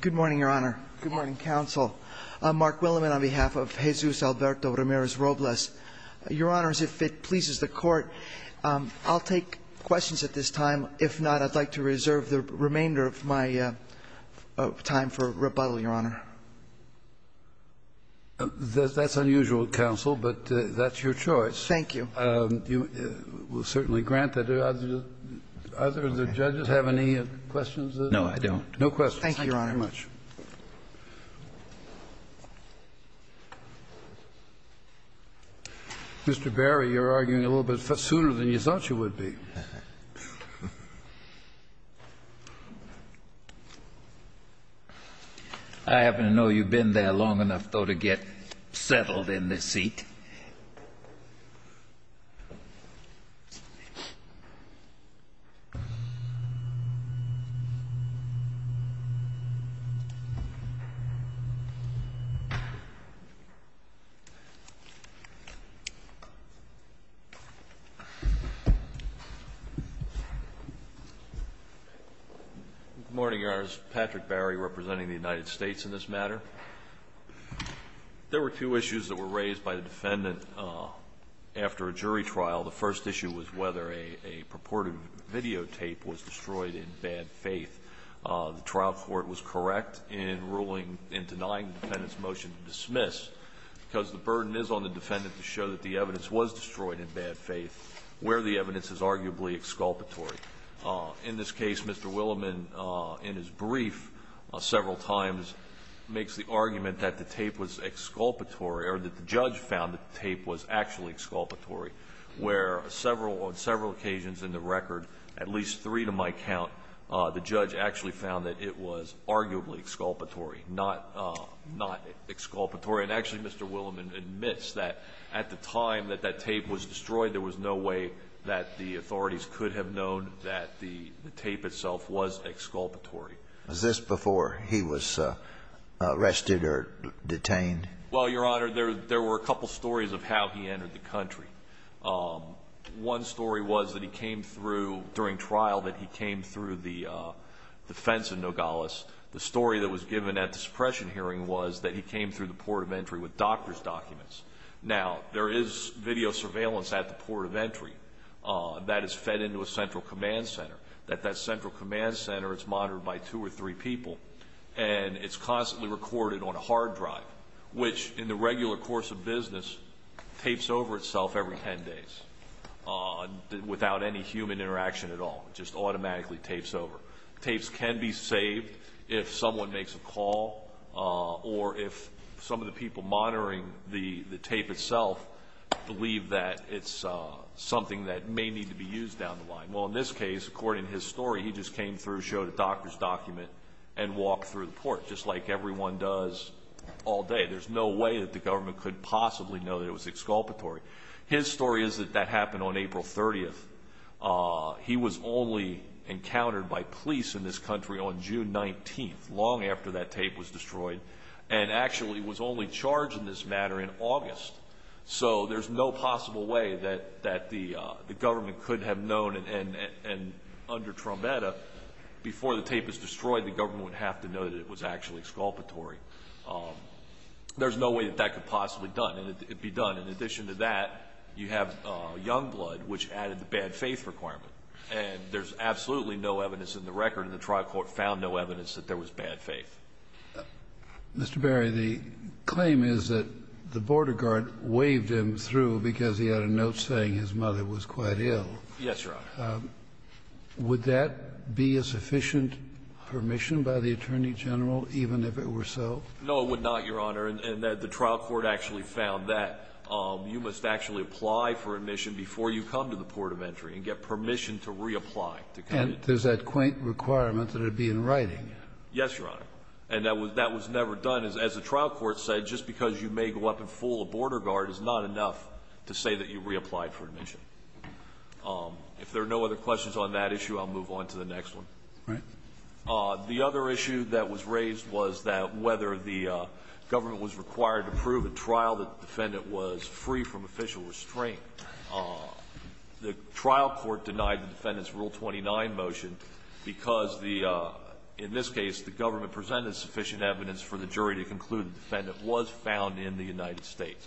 Good morning, Your Honor. Good morning, Counsel. I'm Mark Williman on behalf of Jesus Alberto Ramirez-Robles. Your Honor, as it pleases the Court, I'll take questions at this time. If not, I'd like to reserve the remainder of my time for rebuttal, Your Honor. That's all I have. Thank you. Thank you. Mr. Berry, you're arguing a little bit sooner than you thought you would be. I happen to know you've been there long enough, though, to get settled in this seat. Good morning, Your Honors. Patrick Berry, representing the United States in this matter. There were two issues that were raised by the defendant after a jury trial. The first issue was whether a purported videotape was destroyed in bad faith. The trial court was correct in ruling and denying the defendant's motion to dismiss because the burden is on the defendant to show that the evidence was destroyed in bad faith, where the evidence is arguably exculpatory. In this case, Mr. Williman, in his brief several times, makes the argument that the tape was exculpatory, or that the judge found that the tape was actually exculpatory, where on several occasions in the record, at least three to my count, the judge actually found that it was arguably exculpatory, not exculpatory. And actually, Mr. Williman admits that at the time that that tape was destroyed, there was no way that the authorities could have known that the tape itself was exculpatory. Was this before he was arrested or detained? Well, Your Honor, there were a couple stories of how he entered the country. One story was that he came through, during trial, that he came through the defense of Nogales. The story that was given at the suppression hearing was that he came through the port of entry with doctor's documents. Now, there is video surveillance at the port of entry that is fed into a central command center, that that central command center is monitored by two or three people, and it's constantly recorded on a hard drive, which, in the regular course of business, tapes over itself every ten days, without any human interaction at all. It just automatically tapes over. Tapes can be saved if someone makes a call, or if some of the people monitoring the tape itself believe that it's something that may need to be used down the line. Well, in this case, according to his story, he just came through, showed a doctor's document, and walked through the port, just like everyone does all day. There's no way that the government could possibly know that it was exculpatory. His story is that that happened on April 30th. He was only encountered by police in this country on June 19th, long after that tape was destroyed, and actually was only charged in this matter in August. So, there's no possible way that the government could have known, and under Trombetta, before the tape was destroyed, the government would have to know that it was actually exculpatory. There's no way that that could possibly be done. In addition to that, you have young blood, which added the bad faith requirement, and there's absolutely no evidence in the record, and the trial court found no evidence that there was bad faith. Mr. Berry, the claim is that the border guard waved him through because he had a note saying his mother was quite ill. Yes, Your Honor. Would that be a sufficient permission by the Attorney General, even if it were so? No, it would not, Your Honor, and the trial court actually found that. You must actually apply for admission before you come to the port of entry, and get permission to reapply to come in. But there's that quaint requirement that it would be in writing. Yes, Your Honor. And that was never done. As the trial court said, just because you may go up and fool a border guard is not enough to say that you reapplied for admission. If there are no other questions on that issue, I'll move on to the next one. Right. The other issue that was raised was that whether the government was required to prove at trial that the defendant was free from official restraint. The trial court denied the defendant's Rule 29 motion because the – in this case, the government presented sufficient evidence for the jury to conclude the defendant was found in the United States.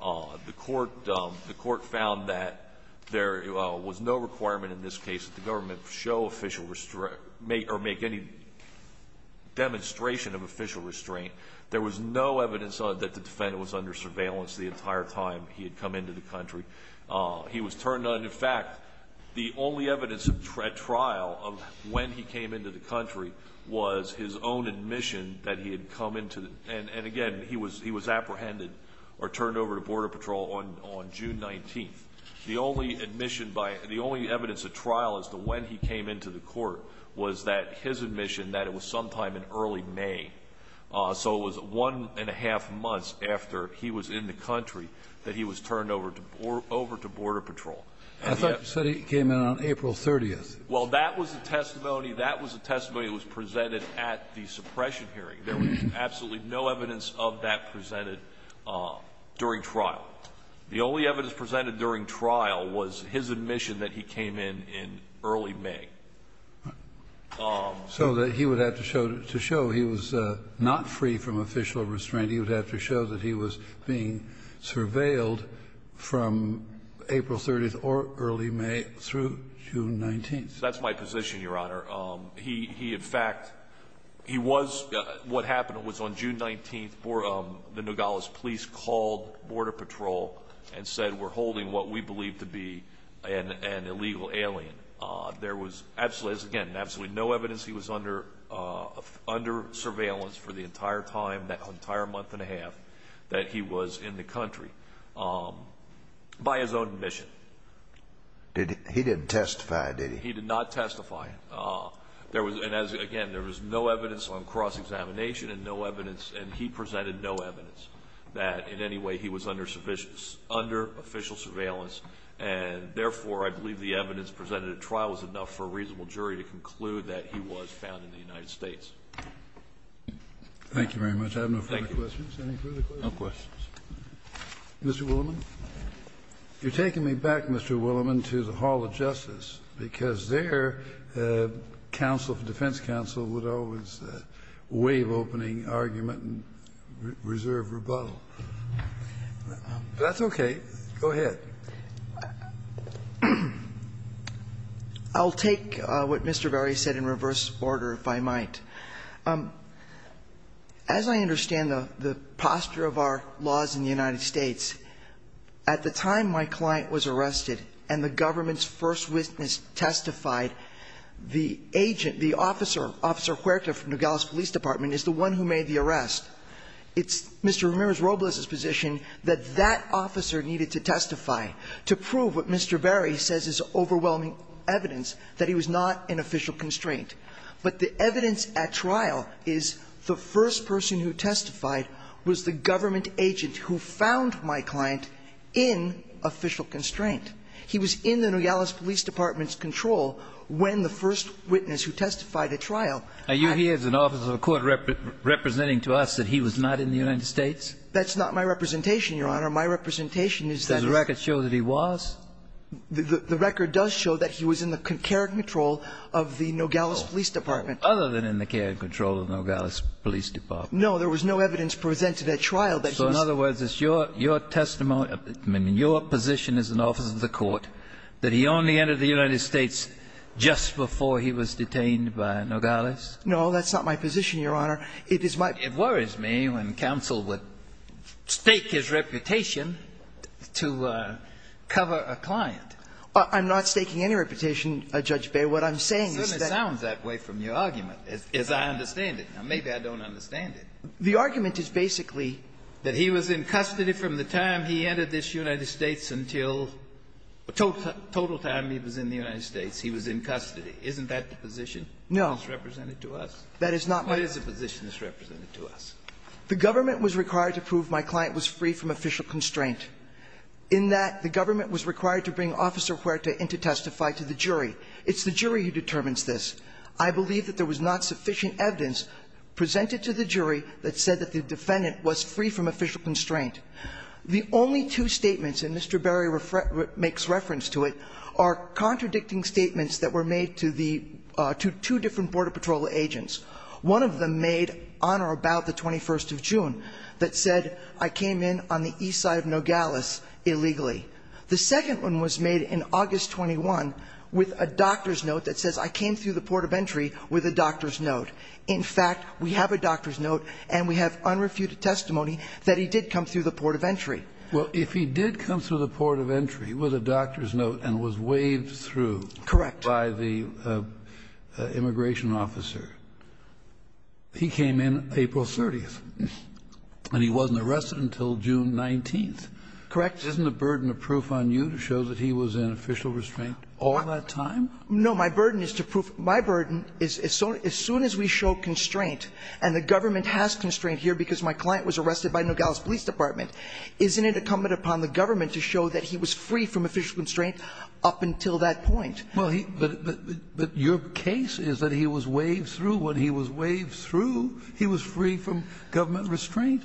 The court found that there was no requirement in this case that the government show official restraint or make any demonstration of official restraint. There was no evidence that the defendant was under surveillance the entire time he had come into the country. He was turned on. In fact, the only evidence at trial of when he came into the country was his own admission that he had come into – and again, he was apprehended or turned over to Border Patrol on June 19th. The only admission by – the only evidence at trial as to when he came into the court was that his admission that it was sometime in early May. So it was one and a half months after he was in the country that he was turned over to – over to Border Patrol. I thought you said he came in on April 30th. Well, that was the testimony – that was the testimony that was presented at the suppression hearing. There was absolutely no evidence of that presented during trial. The only evidence presented during trial was his admission that he came in in early May. So that he would have to show – to show he was not free from official restraint. He would have to show that he was being surveilled from April 30th or early May through June 19th. That's my position, Your Honor. He – he in fact – he was – what happened was on June 19th, the Nogales police called Border Patrol and said we're holding what we absolutely – again, absolutely no evidence he was under – under surveillance for the entire time, that entire month and a half that he was in the country by his own admission. Did he – he didn't testify, did he? He did not testify. There was – and as – again, there was no evidence on cross-examination and no evidence – and he presented no evidence that in any way he was under – under official surveillance. And therefore, I believe the jury to conclude that he was found in the United States. Thank you very much. I have no further questions. Thank you. Any further questions? No questions. Mr. Willimon. You're taking me back, Mr. Willimon, to the Hall of Justice, because there counsel – the defense counsel would always wave opening argument and reserve rebuttal. That's okay. Go ahead. I'll take what Mr. Verri said in reverse order, if I might. As I understand the posture of our laws in the United States, at the time my client was arrested and the government's first witness testified, the agent – the officer, Officer Huerta from Nogales Police Department is the one who made the arrest. It's Mr. Ramirez position that that officer needed to testify to prove what Mr. Verri says is overwhelming evidence, that he was not in official constraint. But the evidence at trial is the first person who testified was the government agent who found my client in official constraint. He was in the Nogales Police Department's control when the first witness who testified at trial – Are you here as an officer of a court representing to us that he was not in the United States? That's not my representation, Your Honor. My representation is that – Does the record show that he was? The record does show that he was in the care and control of the Nogales Police Department. Other than in the care and control of Nogales Police Department. No, there was no evidence presented at trial that he was – So in other words, it's your testimony – I mean, your position as an officer of the court that he only entered the United States just before he was detained by Nogales? No, that's not my position, Your Honor. It is my – It worries me when counsel would stake his reputation to cover a client. I'm not staking any reputation, Judge Beyer. What I'm saying is that – It certainly sounds that way from your argument, as I understand it. Now, maybe I don't understand it. The argument is basically – That he was in custody from the time he entered this United States until the total time he was in the United States, he was in custody. Isn't that the position that's represented to us? No. That is not my – What is the position that's represented to us? The government was required to prove my client was free from official constraint. In that, the government was required to bring Officer Huerta in to testify to the jury. It's the jury who determines this. I believe that there was not sufficient evidence presented to the jury that said that the defendant was free from official constraint. The only two statements, and Mr. Berry makes reference to it, are contradicting statements that were made to the – to two different Border Patrol agents. One of them made on or about the 21st of June that said, I came in on the east side of Nogales illegally. The second one was made in August 21 with a doctor's note that says, I came through the port of entry with a doctor's note. In fact, we have a doctor's note and we have unrefuted testimony that he did come through the port of entry. Well, if he did come through the port of entry with a doctor's note and was waved through – Correct. By the immigration officer, he came in April 30th and he wasn't arrested until June 19th. Correct. Isn't the burden of proof on you to show that he was in official restraint all that time? No. My burden is to prove – my burden is as soon as we show constraint, and the government has constraint here because my client was arrested by Nogales Police Department, isn't it incumbent upon the government to show that he was free from official restraint up until that point? Well, he – but your case is that he was waved through. When he was waved through, he was free from government restraint.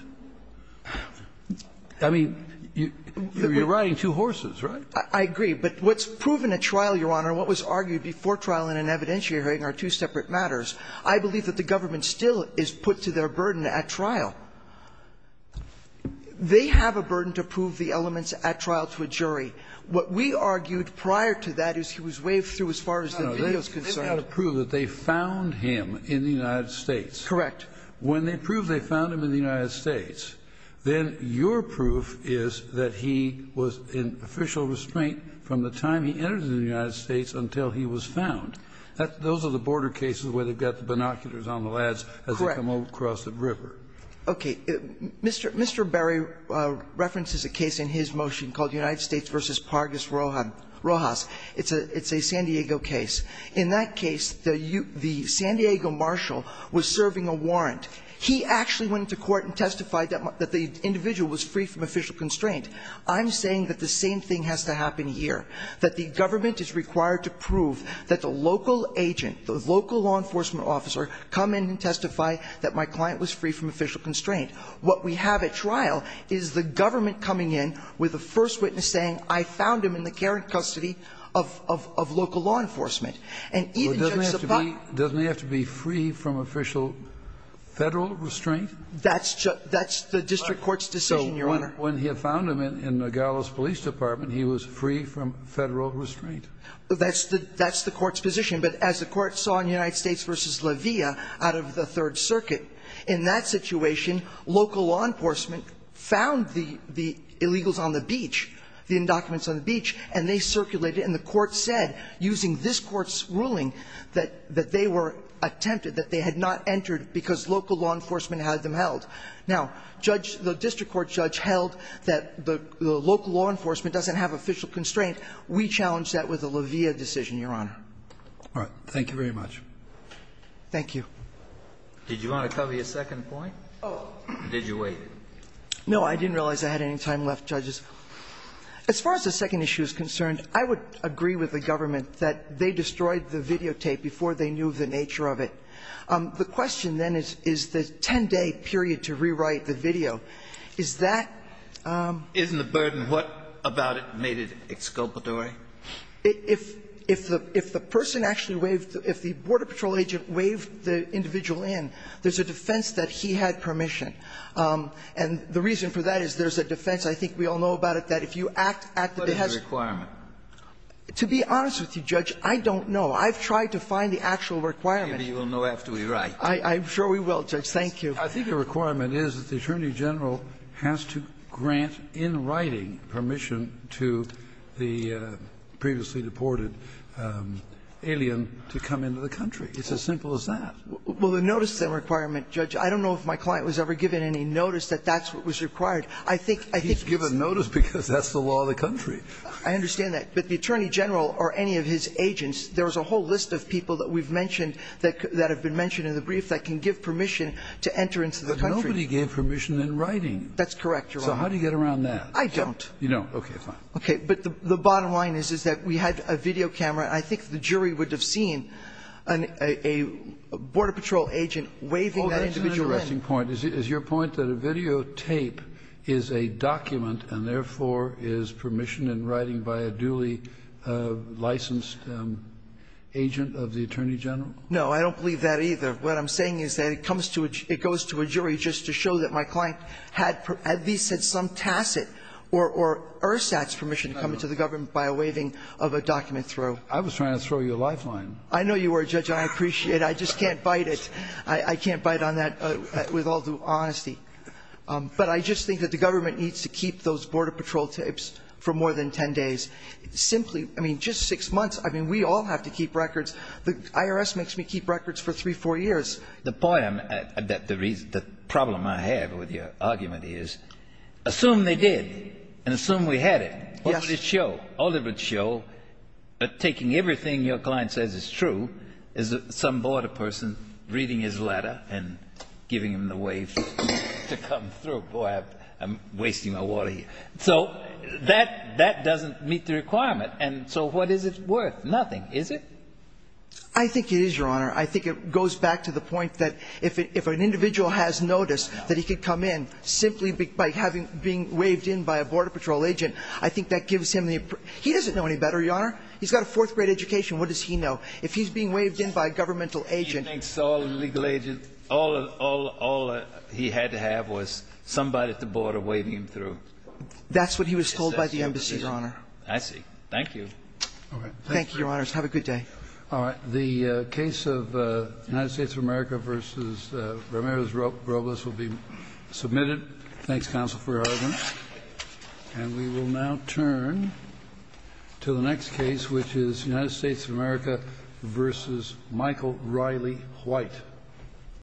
I mean, you're riding two horses, right? I agree. But what's proven at trial, Your Honor, and what was argued before trial in an evidentiary hearing are two separate matters. I believe that the government still is put to their burden at trial. They have a burden to prove the elements at trial to a jury. What we argued prior to that is he was waved through as far as the video is concerned. No. They've got to prove that they found him in the United States. Correct. When they prove they found him in the United States, then your proof is that he was in official restraint from the time he entered the United States until he was found. Those are the border cases where they've got the binoculars on the lads as they come across the river. Correct. Okay. Mr. Barry references a case in his motion called United States v. Pargis Rojas. It's a San Diego case. In that case, the San Diego marshal was serving a warrant. He actually went to court and testified that the individual was free from official constraint. I'm saying that the same thing has to happen here, that the government is required to prove that the local agent, the local law enforcement officer, come in and testify that my client was free from official constraint. What we have at trial is the government coming in with a first witness saying, I found him in the care and custody of local law enforcement. Doesn't he have to be free from official Federal restraint? That's the district court's decision, Your Honor. When he had found him in Nogales Police Department, he was free from Federal restraint. That's the court's position. But as the court saw in United States v. La Villa out of the Third Circuit, in that situation, local law enforcement found the illegals on the beach, the indocuments on the beach, and they circulated. And the court said, using this court's ruling, that they were attempted, that they had not entered because local law enforcement had them held. Now, judge the district court judge held that the local law enforcement doesn't have official constraint. We challenge that with the La Villa decision, Your Honor. All right. Thank you very much. Thank you. Did you want to cover your second point? Oh. Or did you wait? No. I didn't realize I had any time left, judges. As far as the second issue is concerned, I would agree with the government that they destroyed the videotape before they knew the nature of it. The question then is, is the 10-day period to rewrite the video, is that ---- Isn't the burden what about it made it exculpatory? If the person actually waived the ---- if the Border Patrol agent waived the individual in, there's a defense that he had permission. And the reason for that is there's a defense, I think we all know about it, that if you act at the behest of ---- What is the requirement? To be honest with you, Judge, I don't know. I've tried to find the actual requirement. Maybe you will know after we write. I'm sure we will, Judge. Thank you. I think the requirement is that the Attorney General has to grant in writing permission to the previously deported alien to come into the country. It's as simple as that. Well, the notice of that requirement, Judge, I don't know if my client was ever given any notice that that's what was required. I think ---- He's given notice because that's the law of the country. I understand that. But the Attorney General or any of his agents, there's a whole list of people that we've mentioned that have been mentioned in the brief that can give permission to enter into the country. But nobody gave permission in writing. That's correct, Your Honor. So how do you get around that? I don't. You don't. Okay, fine. Okay. But the bottom line is, is that we had a video camera. I think the jury would have seen a Border Patrol agent waving that individual in. Well, that's an interesting point. Is your point that a videotape is a document and, therefore, is permission in writing by a duly licensed agent of the Attorney General? No. I don't believe that either. What I'm saying is that it comes to a jury, it goes to a jury just to show that my client had at least had some tacit or ersatz permission to come into the government by a waving of a document through. I was trying to throw you a lifeline. I know you were, Judge, and I appreciate it. I just can't bite it. I can't bite on that with all due honesty. But I just think that the government needs to keep those Border Patrol tapes for more than 10 days. Simply, I mean, just six months. I mean, we all have to keep records. The IRS makes me keep records for three, four years. The point I'm at, the problem I have with your argument is, assume they did and assume we had it. Yes. What would it show? All it would show, taking everything your client says is true, is some Border Patrol person reading his letter and giving him the wave to come through. Boy, I'm wasting my water here. So that doesn't meet the requirement. And so what is it worth? Nothing, is it? I think it is, Your Honor. I think it goes back to the point that if an individual has noticed that he could come in simply by being waved in by a Border Patrol agent, I think that gives him the – he doesn't know any better, Your Honor. He's got a fourth-grade education. What does he know? If he's being waved in by a governmental agent – He thinks all the legal agents – all he had to have was somebody at the border waving him through. That's what he was told by the embassy, Your Honor. I see. Thank you. Thank you, Your Honors. Have a good day. All right. The case of United States of America v. Ramirez-Robles will be submitted. Thanks, counsel, for your argument. And we will now turn to the next case, which is United States of America v. Michael Riley White.